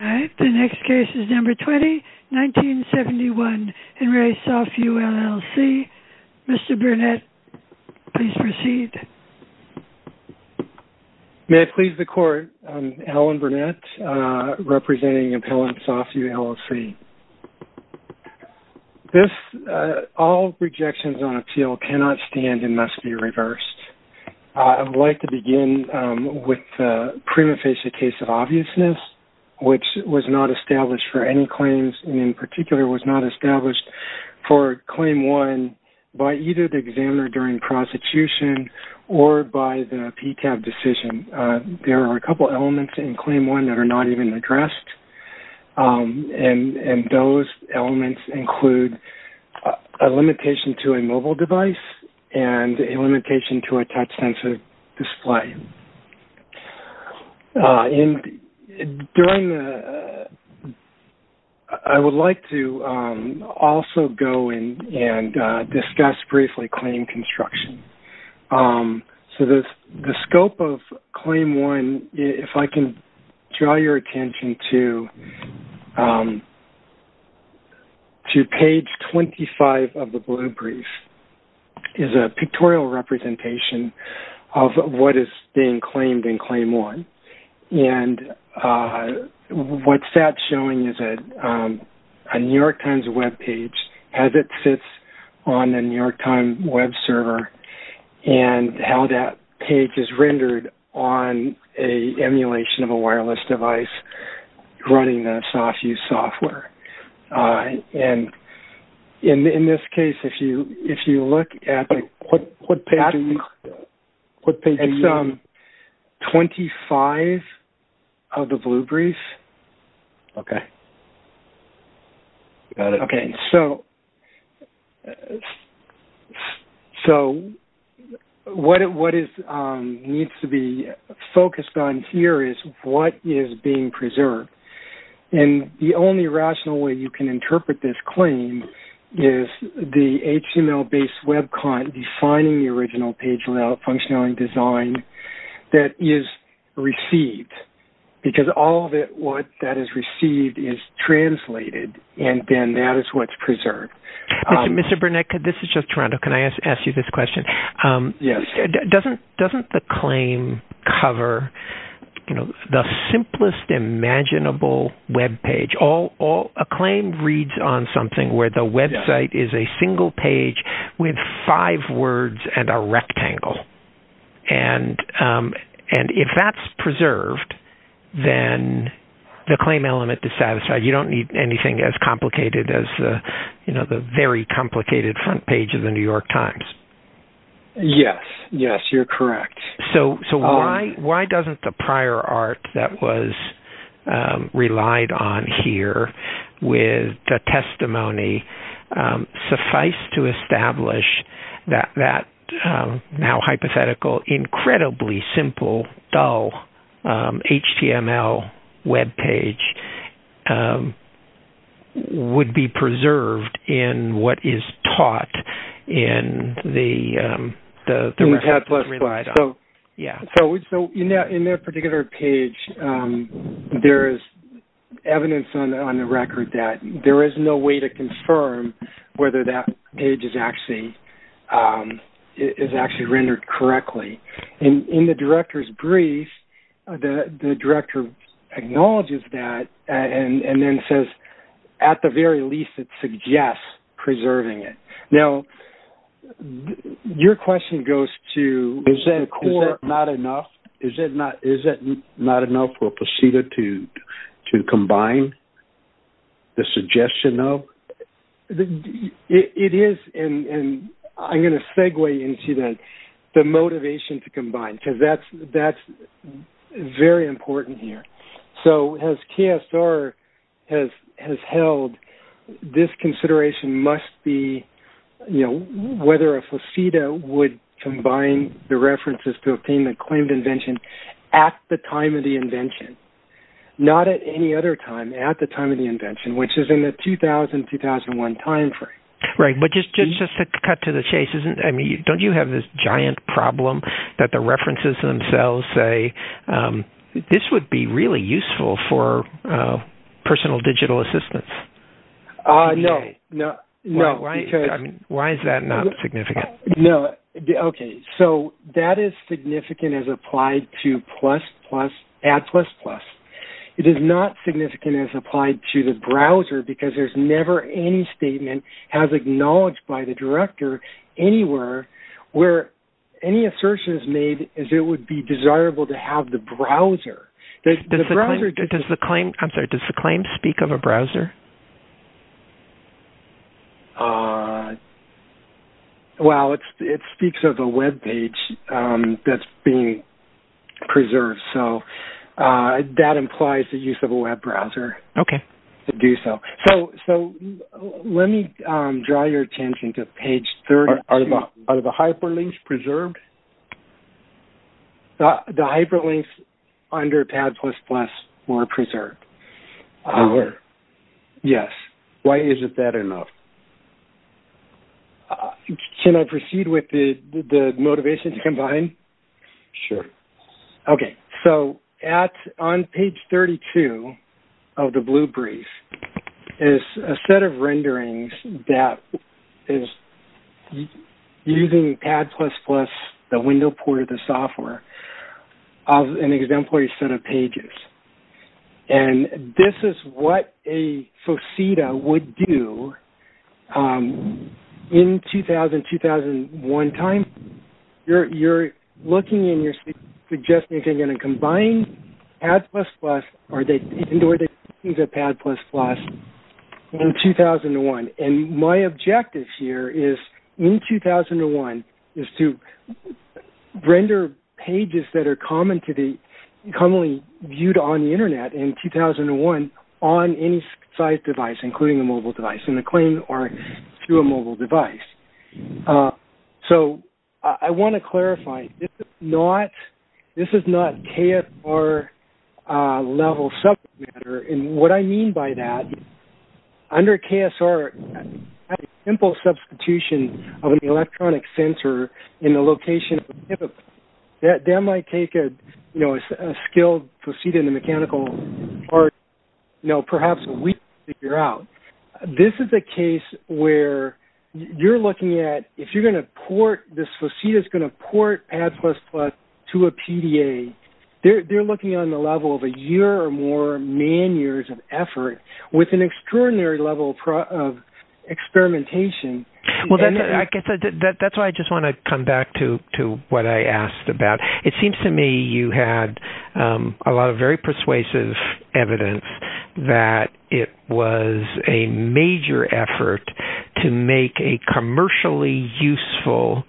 All right, the next case is number 20, 1971, Henry Re SoftView LLC. Mr. Burnett, please proceed. May I please the court? Allen Burnett, representing Appellant SoftView LLC. This, all rejections on appeal cannot stand and must be reversed. I would like to begin with the prima facie case of obviousness, which was not established for any claims and in particular was not established for Claim 1 by either the examiner during prostitution or by the PCAB decision. There are a couple elements in Claim 1 that are not even addressed, and those elements include a limitation to a mobile device and a limitation to a touch-sensitive display. I would like to also go in and discuss briefly claim construction. So the scope of Claim 1, if I can draw your attention to page 25 of the blue brief, is a pictorial representation of what is being claimed in Claim 1. And what that's showing is a New York Times Web page as it sits on the New York Times Web server and how that page is rendered on an emulation of a wireless device running the SoftView software. And in this case, if you look at page 25 of the blue brief. Okay. Okay. So what needs to be focused on here is what is being preserved. And the only rational way you can interpret this claim is the HTML-based Web client defining the original page layout functionality design that is received, because all of what is received is translated, and then that is what's preserved. Mr. Burnett, this is just Toronto. Can I ask you this question? Yes. Doesn't the claim cover the simplest imaginable Web page? A claim reads on something where the Web site is a single page with five words and a rectangle. And if that's preserved, then the claim element is satisfied. You don't need anything as complicated as the very complicated front page of the New York Times. Yes. Yes, you're correct. So why doesn't the prior art that was relied on here with the testimony suffice to establish that now hypothetical, incredibly simple, dull HTML Web page would be preserved in what is taught in the record that's relied on? So in that particular page, there is evidence on the record that there is no way to confirm whether that page is actually rendered correctly. In the director's brief, the director acknowledges that and then says, at the very least, it suggests preserving it. Now, your question goes to is that not enough? Is it not enough for POSITA to combine the suggestion of? It is, and I'm going to segue into that, the motivation to combine, because that's very important here. So as KSR has held, this consideration must be whether a POSITA would combine the references to obtain the claimed invention at the time of the invention, not at any other time, at the time of the invention, which is in the 2000-2001 time frame. Right, but just to cut to the chase, don't you have this giant problem that the references themselves say, this would be really useful for personal digital assistance? No. Why is that not significant? No. Okay, so that is significant as applied to Add++. It is not significant as applied to the browser, because there's never any statement as acknowledged by the director anywhere where any assertion is made as it would be desirable to have the browser. Does the claim speak of a browser? Well, it speaks of a Web page that's being preserved. So that implies the use of a Web browser to do so. So let me draw your attention to page 32. Are the hyperlinks preserved? The hyperlinks under Add++ were preserved. Yes. Why isn't that enough? Can I proceed with the motivation to combine? Sure. Okay, so on page 32 of the blue brief is a set of renderings that is using Add++, the window port of the software, of an exemplary set of pages. And this is what a faceta would do in 2000-2001 time. You're looking and you're suggesting if you're going to combine Add++ or the things at Add++ in 2001. And my objective here is, in 2001, is to render pages that are commonly viewed on the Internet in 2001 on any size device, including a mobile device, in the claim or through a mobile device. So I want to clarify, this is not KSR-level subject matter. And what I mean by that, under KSR, a simple substitution of an electronic sensor in the location of a device, that might take a skilled proceed in the mechanical part, you know, perhaps a week to figure out. This is a case where you're looking at, if this faceta is going to port Add++ to a PDA, they're looking on the level of a year or more man years of effort with an extraordinary level of experimentation. That's why I just want to come back to what I asked about. It seems to me you had a lot of very persuasive evidence that it was a major effort to make a commercially useful,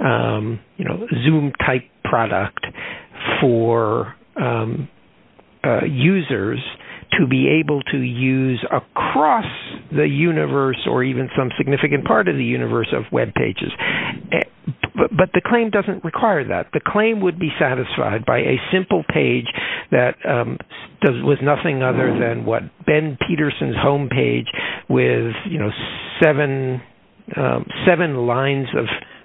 you know, Zoom-type product for users to be able to use across the universe or even some significant part of the universe of web pages. But the claim doesn't require that. The claim would be satisfied by a simple page that was nothing other than what Ben Peterson's homepage with, you know, seven lines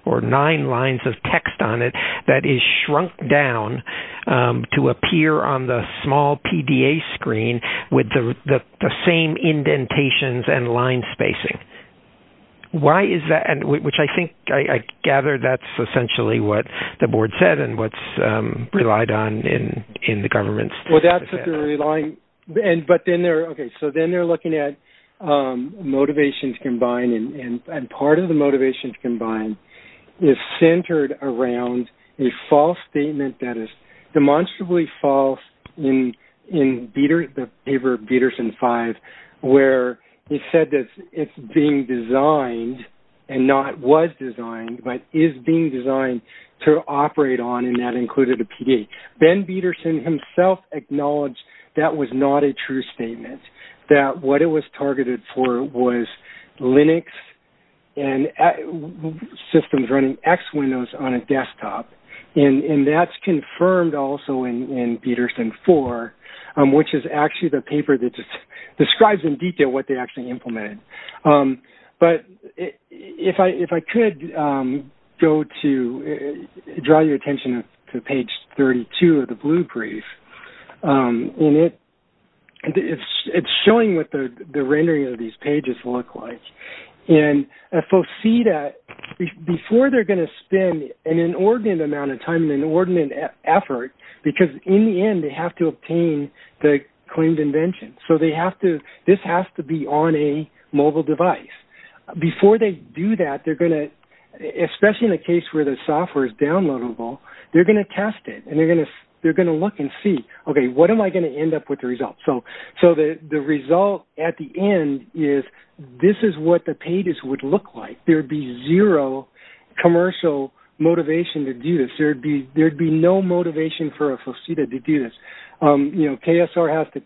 or nine lines of text on it that is shrunk down to appear on the small PDA screen with the same indentations and line spacing. Why is that? Which I think, I gather that's essentially what the board said and what's relied on in the government's... Well, that's what they're relying... Okay, so then they're looking at motivations combined and part of the motivations combined is centered around a false statement that is demonstrably false in the paper of Peterson 5 where he said that it's being designed and not was designed but is being designed to operate on and that included a PD. Ben Peterson himself acknowledged that was not a true statement, that what it was targeted for was Linux and systems running X Windows on a desktop. And that's confirmed also in Peterson 4, which is actually the paper that describes in detail what they actually implemented. But if I could go to draw your attention to page 32 of the blue brief, and it's showing what the rendering of these pages look like. And folks see that before they're going to spend an inordinate amount of time and inordinate effort because in the end they have to obtain the claimed invention. So they have to... This has to be on a mobile device. Before they do that, they're going to... Especially in the case where the software is downloadable, they're going to test it and they're going to look and see, okay, what am I going to end up with the result? So the result at the end is this is what the pages would look like. There would be zero commercial motivation to do this. There would be no motivation for a faceta to do this. KSR has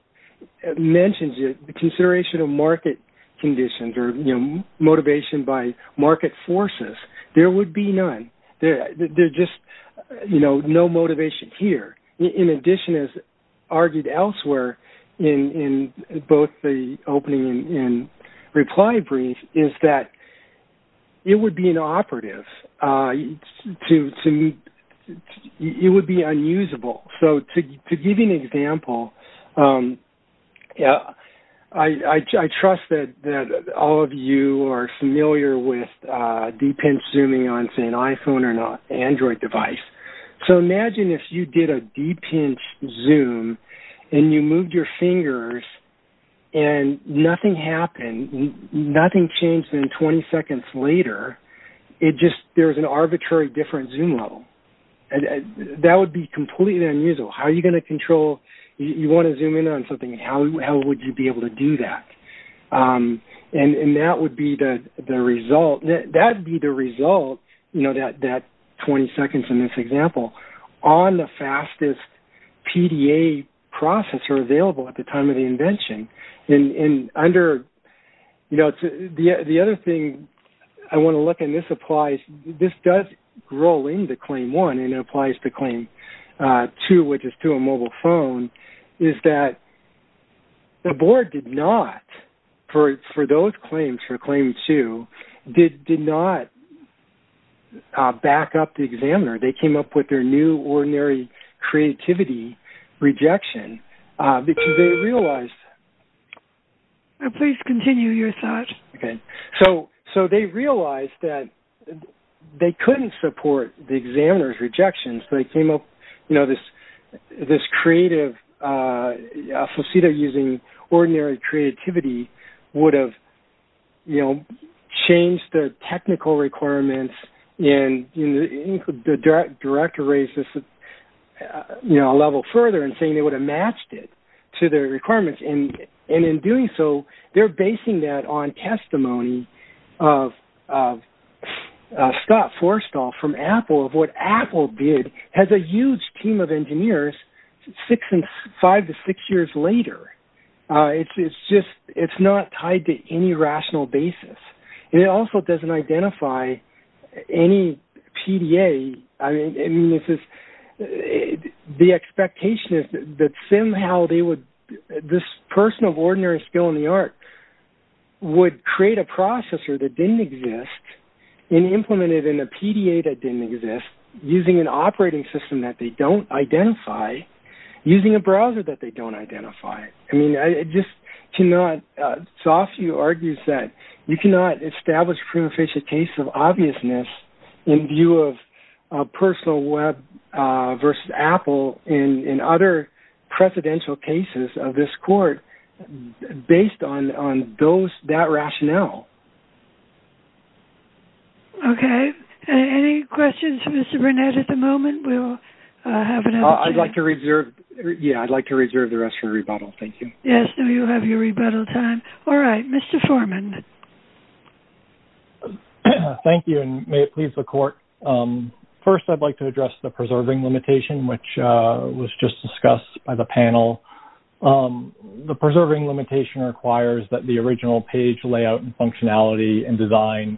mentioned the consideration of market conditions or motivation by market forces. There would be none. There's just no motivation here. In addition, as argued elsewhere in both the opening and reply brief, is that it would be inoperative. It would be unusable. So to give you an example, I trust that all of you are familiar with deep-pinch zooming on, say, an iPhone or an Android device. So imagine if you did a deep-pinch zoom and you moved your fingers and nothing happened, nothing changed, and then 20 seconds later, there was an arbitrary different zoom level. That would be completely unusable. How are you going to control? You want to zoom in on something. How would you be able to do that? And that would be the result, that 20 seconds in this example, on the fastest PDA processor available at the time of the invention. The other thing I want to look at, and this applies, this does roll into Claim 1 and it applies to Claim 2, which is to a mobile phone, is that the board did not, for those claims, for Claim 2, did not back up the examiner. They came up with their new ordinary creativity rejection, because they realized... Please continue your thoughts. Okay. So they realized that they couldn't support the examiner's rejection, so they came up with this creative, a facet of using ordinary creativity would have changed the technical requirements and the director raised this a level further and saying they would have matched it to their requirements. And in doing so, they're basing that on testimony of Scott Forstall from Apple, of what Apple did, has a huge team of engineers five to six years later. It's not tied to any rational basis. It also doesn't identify any PDA. I mean, the expectation is that somehow this person of ordinary skill in the art would create a processor that didn't exist and implement it in a PDA that didn't exist, using an operating system that they don't identify, using a browser that they don't identify. I mean, I just cannot, Sofie argues that you cannot establish a case of obviousness in view of personal web versus Apple in other presidential cases of this court, based on that rationale. Okay. Any questions for Mr. Burnett at the moment? I'd like to reserve the rest for rebuttal. Thank you. Yes. Now you have your rebuttal time. All right, Mr. Foreman. Thank you. And may it please the court. First, I'd like to address the preserving limitation, which was just discussed by the panel. The preserving limitation requires that the original page layout and functionality and design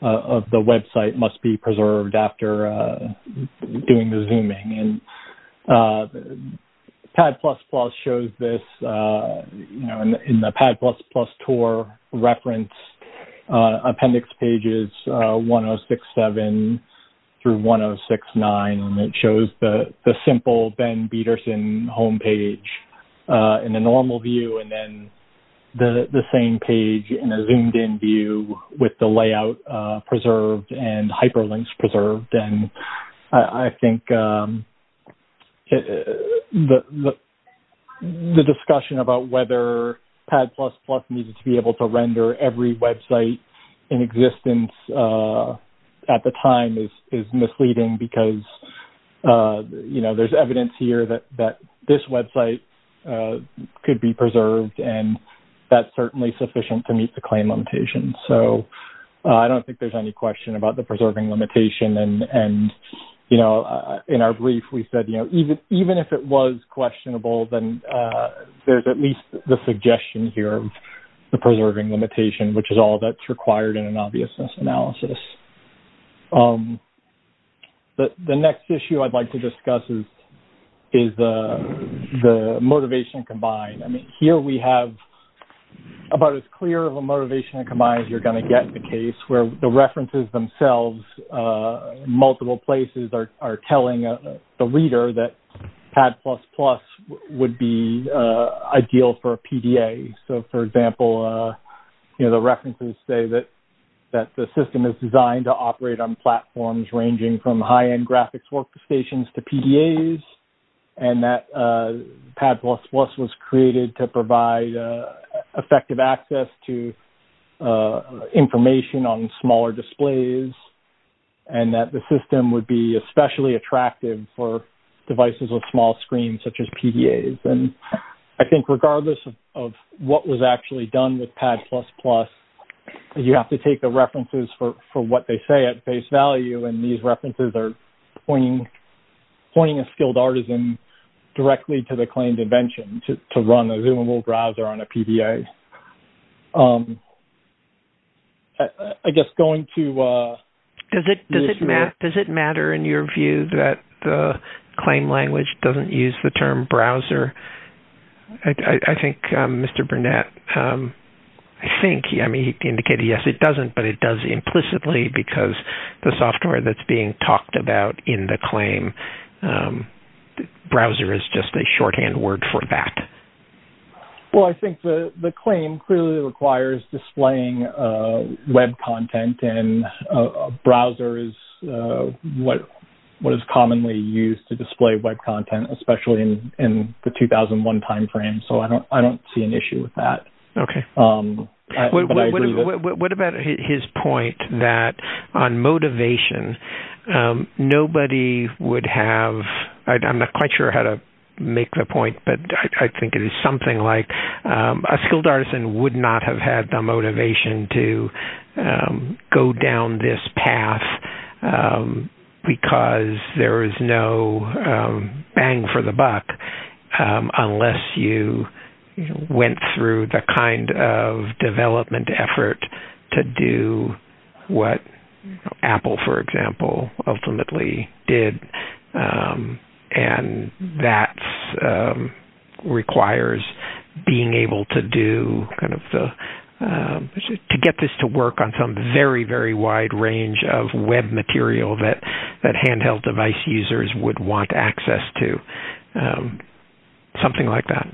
of the website must be preserved after doing the PAD++ shows this in the PAD++ tour reference appendix pages, 1067 through 1069. And it shows the simple Ben Bederson homepage in a normal view. And then the same page in a zoomed in view with the layout preserved and hyperlinks preserved. And I think the discussion about whether PAD++ needs to be able to render every website in existence at the time is misleading because, you know, there's evidence here that this website could be preserved and that's certainly sufficient to meet the claim limitation. So I don't think there's any question about the preserving limitation. And, you know, in our brief, we said, you know, even, even if it was questionable, then there's at least the suggestion here of the preserving limitation, which is all that's required in an obviousness analysis. The next issue I'd like to discuss is the motivation combined. I mean, here we have about as clear of a motivation combined as you're going to get in the case where the references themselves, multiple places are telling the reader that PAD++ would be ideal for a PDA. So for example, you know, the references say that the system is designed to operate on platforms ranging from high-end graphics workstations to PDAs, and that PAD++ was created to provide effective access to information on smaller displays and that the system would be especially attractive for devices with small screens, such as PDAs. And I think regardless of what was actually done with PAD++, you have to take the references for what they say at face value. And these references are pointing a skilled artisan directly to the claimed invention to run a zoomable browser on a PDA. I guess going to- Does it matter in your view that the claim language doesn't use the term browser? I think Mr. Burnett, I think, I mean, he indicated yes, it doesn't, but it does implicitly because the software that's being talked about in the claim, browser is just a shorthand word for that. Well, I think the claim clearly requires displaying web content, and a browser is what is commonly used to display web content, especially in the 2001 timeframe. So I don't see an issue with that. What about his point that on motivation, nobody would have, I'm not quite sure how to make the point, but I think it is something like a skilled artisan would not have had the motivation to go down this path because there is no bang for the buck, unless you went through the kind of development effort to do what Apple, for example, ultimately did. And that requires being able to do kind of the, to get this to work on some very, very wide range of web material that handheld device users would want access to. Something like that.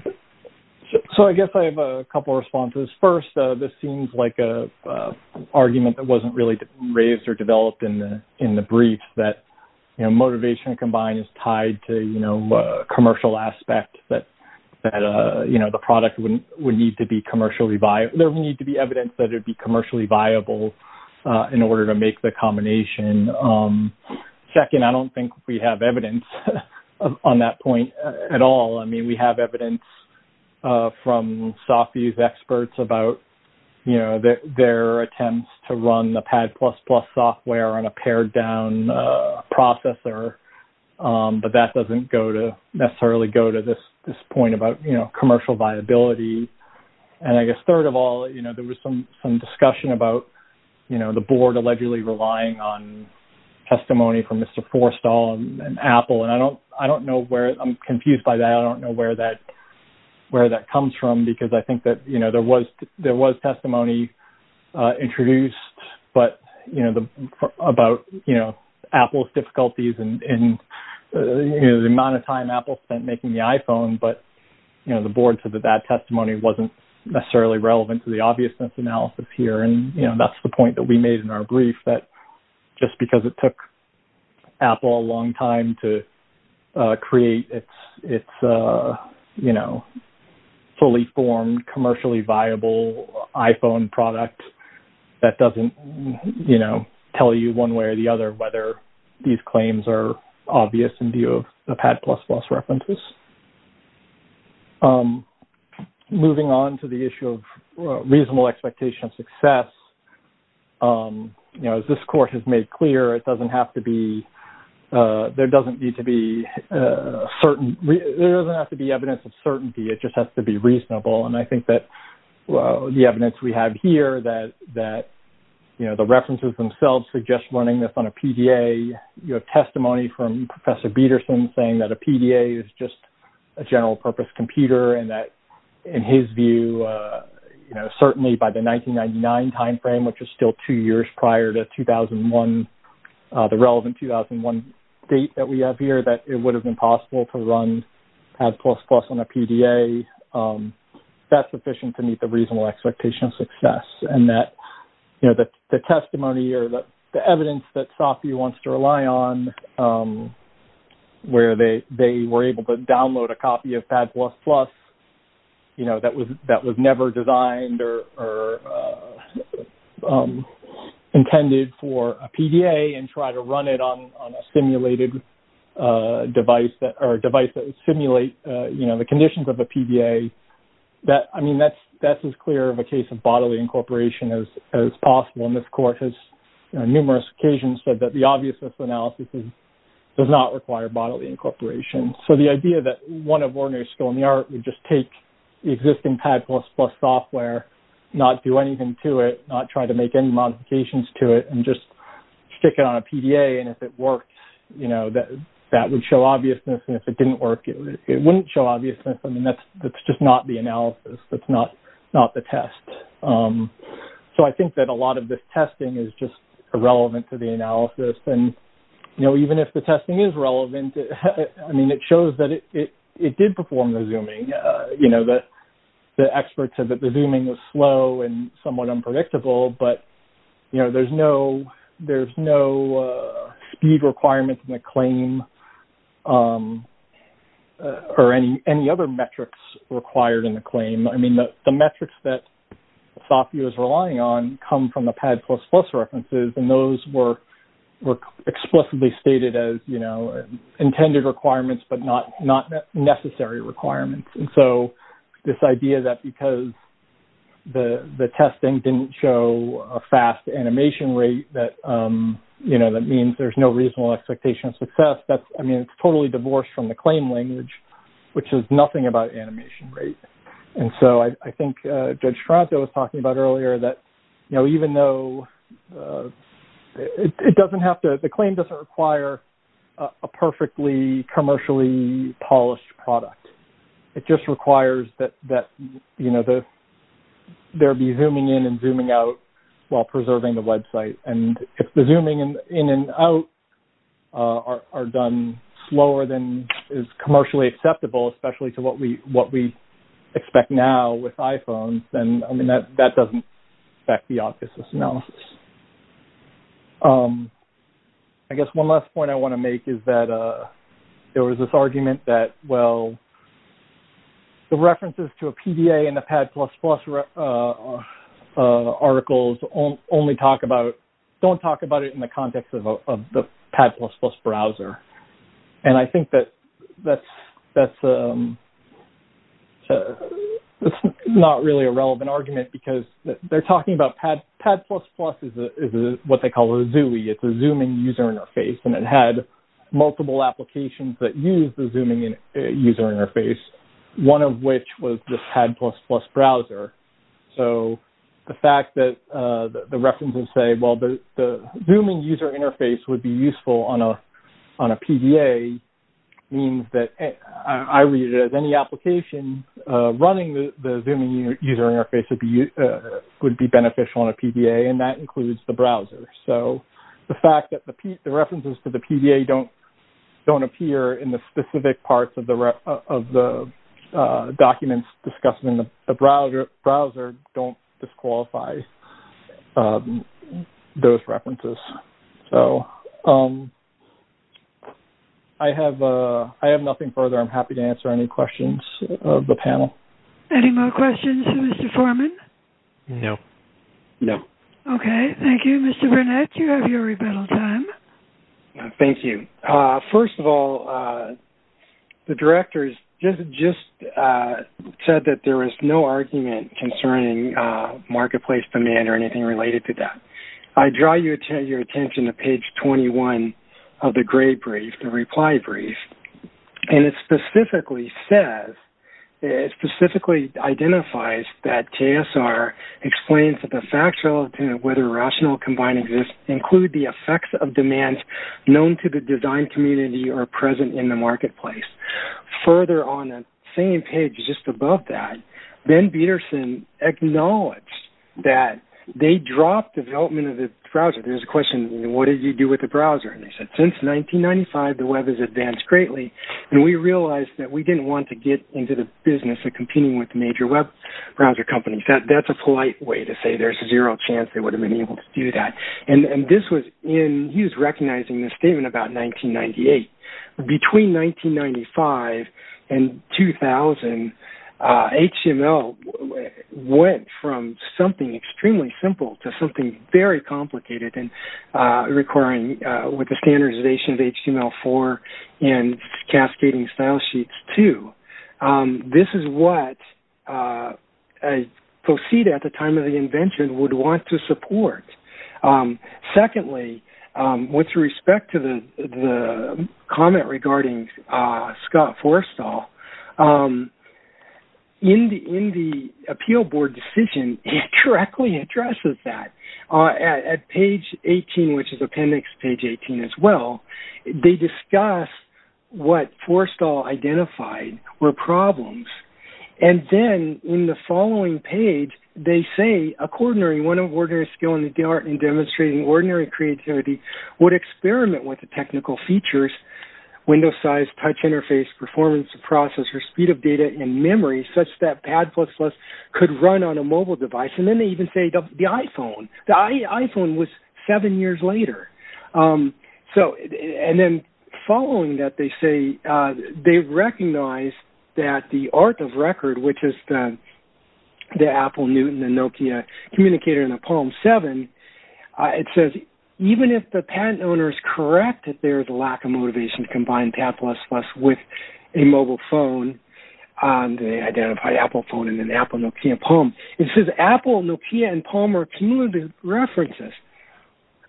So I guess I have a couple of responses. First, this seems like an argument that wasn't really raised or developed in the brief, that motivation combined is tied to a commercial aspect, that the product would need to be commercially viable. There would need to be evidence that it would be commercially viable in order to make the combination. Second, I don't think we have evidence on that point at all. I mean, we have evidence from software use experts about their attempts to run the Pad++ software on a pared down processor, but that doesn't necessarily go to this point about commercial viability. And I guess third of all, you know, there was some discussion about, you know, the board allegedly relying on testimony from Mr. Forstall and Apple. And I don't know where, I'm confused by that. I don't know where that comes from because I think that, you know, there was testimony introduced, but, you know, about, you know, Apple's difficulties and the amount of time Apple spent making the iPhone, but, you know, the board said that that testimony wasn't necessarily relevant to the obviousness analysis here. And, you know, that's the point that we made in our brief, that just because it took Apple a long time to create its, you know, fully formed, commercially viable iPhone product, that doesn't, you know, tell you one way or the other whether these claims are obvious in view of the Moving on to the issue of reasonable expectation of success, you know, as this course has made clear, it doesn't have to be, there doesn't need to be certain, there doesn't have to be evidence of certainty. It just has to be reasonable. And I think that the evidence we have here that, you know, the references themselves suggest running this on a PDA, you have testimony from Professor Peterson saying that a PDA is just a general purpose computer and that, in his view, you know, certainly by the 1999 timeframe, which is still two years prior to 2001, the relevant 2001 date that we have here, that it would have been possible to run Ad++ on a PDA. That's sufficient to meet the reasonable expectation of success. And that, you know, the testimony or the evidence that Sophie wants to rely on where they were able to download a copy of Ad++, you know, that was, that was never designed or intended for a PDA and try to run it on a simulated device that, or a device that would simulate, you know, the conditions of a PDA that, I mean, that's as clear of a case of bodily incorporation as possible. And this court has on numerous occasions said that the obviousness of analysis does not require bodily incorporation. So the idea that one of ordinary skill in the art would just take the existing Ad++ software, not do anything to it, not try to make any modifications to it and just stick it on a PDA. And if it works, you know, that, that would show obviousness. And if it didn't work, it wouldn't show obviousness. I mean, that's, that's just not the analysis. That's not, not the test. So I think that a lot of this testing is just irrelevant to the analysis. And, you know, even if the testing is relevant, I mean, it shows that it did perform the zooming, you know, that the experts said that the zooming was slow and somewhat unpredictable, but, you know, there's no, there's no speed requirements in the claim or any, any other metrics required in the claim. I mean, the metrics that thought he was relying on come from the pad plus plus references. And those were, were explicitly stated as, you know, intended requirements, but not, not necessary requirements. And so this idea that because the, the testing didn't show a fast animation rate that, you know, that means there's no reasonable expectation of success. That's, I mean, it's totally divorced from the claim language, which is nothing about animation rate. And so I think judge Toronto was talking about earlier that, you know, even though it doesn't have to, the claim doesn't require a perfectly commercially polished product. It just requires that, that, you know, the, there'll be zooming in and zooming out while preserving the website and the zooming in and out are done slower than is commercially acceptable, especially to what we, what we expect now with iPhones. And I mean, that, that doesn't affect the office analysis. I guess one last point I want to make is that there was this argument that well, the references to a PDA and the pad plus plus articles only talk about, don't talk about it in the context of the pad plus plus browser. And I think that that's, that's, it's not really a relevant argument because they're talking about pad, pad plus plus is what they call a zoo. It's a zooming user interface and it had multiple applications that use the zooming user interface. One of which was just had plus plus browser. So the fact that the references say, well, the zooming user interface would be useful on a, on a PDA means that I read it as any application running the, the zooming user interface would be, would be beneficial on a PDA and that includes the browser. So the fact that the P the references to the PDA don't, don't appear in the specific parts of the, of the documents discussed in the browser browser, don't disqualify those references. So I have a, I have nothing further. I'm happy to answer any questions of the panel. Any more questions, Mr. Foreman? No, no. Okay. Thank you, Mr. Burnett. You have your rebuttal time. Thank you. First of all the directors just, just said that there was no argument concerning marketplace demand or anything related to that. I draw your attention to page 21 of the gray brief, the reply brief. And it specifically says, it specifically identifies that TSR explains that the facts relative to whether rational combining exists include the effects of demands known to the design community or present in the marketplace. Further on the same page, just above that, Ben Peterson acknowledged that they dropped development of the browser. There's a question, what did you do with the browser? And they said, since 1995, the web has advanced greatly and we realized that we didn't want to get into the business of competing with major web browser companies. That's a polite way to say there's zero chance. They would have been able to do that. And this was in, he was recognizing this statement about 1998. Between 1995 and 2000, HTML went from something extremely simple to something very complicated and requiring with the standardization of HTML4 and cascading style sheets too. This is what I proceed at the time of the invention would want to support. Secondly, with respect to the comment regarding Scott Forstall, in the appeal board decision, it correctly addresses that. At page 18, which is appendix page 18 as well, they discuss what Forstall identified were problems. And then in the following page, they say, according to ordinary skill in the art and demonstrating ordinary creativity, would experiment with the technical features, window size, touch interface, performance, processor, speed of data, and memory such that Pad++ could run on a mobile device. And then they even say the iPhone. The iPhone was seven years later. And then following that, they say, they recognize that the art of record, which is the Apple, Newton, and Nokia communicator in a Palm 7, it says even if the patent owner is correct that there is a lack of motivation to combine Pad++ with a mobile phone, they identify Apple phone and then Apple, Nokia, Palm. It says Apple, Nokia, and Palm are cumulative references.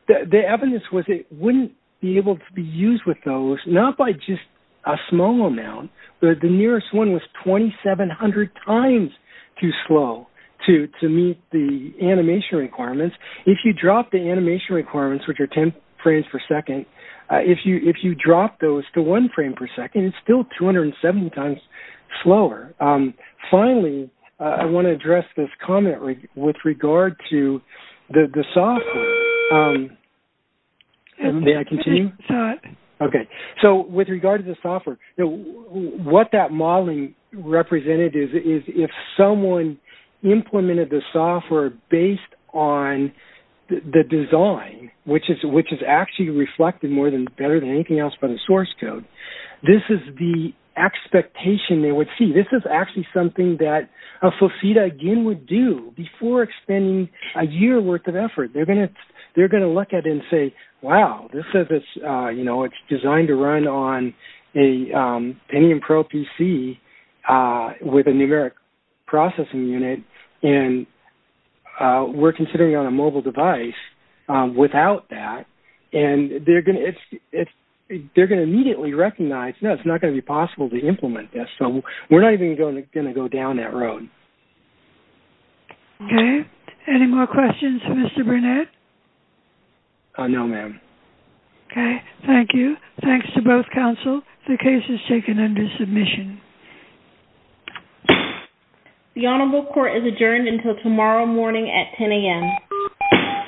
The evidence was it wouldn't be able to be used with those, not by just a small amount. The nearest one was 2,700 times too slow to meet the animation requirements. If you drop the animation requirements, which are 10 frames per second, if you drop those to one frame per second, it's still 270 times slower. Finally, I want to address this comment with regard to the software. May I continue? Sure. Okay. So with regard to the software, what that modeling represented is if someone implemented the software based on the design, which is actually reflected more than better than anything else by the source code, this is the expectation they would see. This is actually something that Fofita, again, would do before expending a year worth of effort. They're going to look at it and say, wow, this is, you know, it's designed to run on a Pentium Pro PC with a numeric processing unit, and we're considering on a mobile device without that, and they're going to immediately recognize, no, it's not going to be possible to implement this. We're not even going to go down that road. Okay. Any more questions, Mr. Burnett? No, ma'am. Okay. Thank you. Thanks to both counsel. The case is taken under submission. The honorable court is adjourned until tomorrow morning at 10 a.m.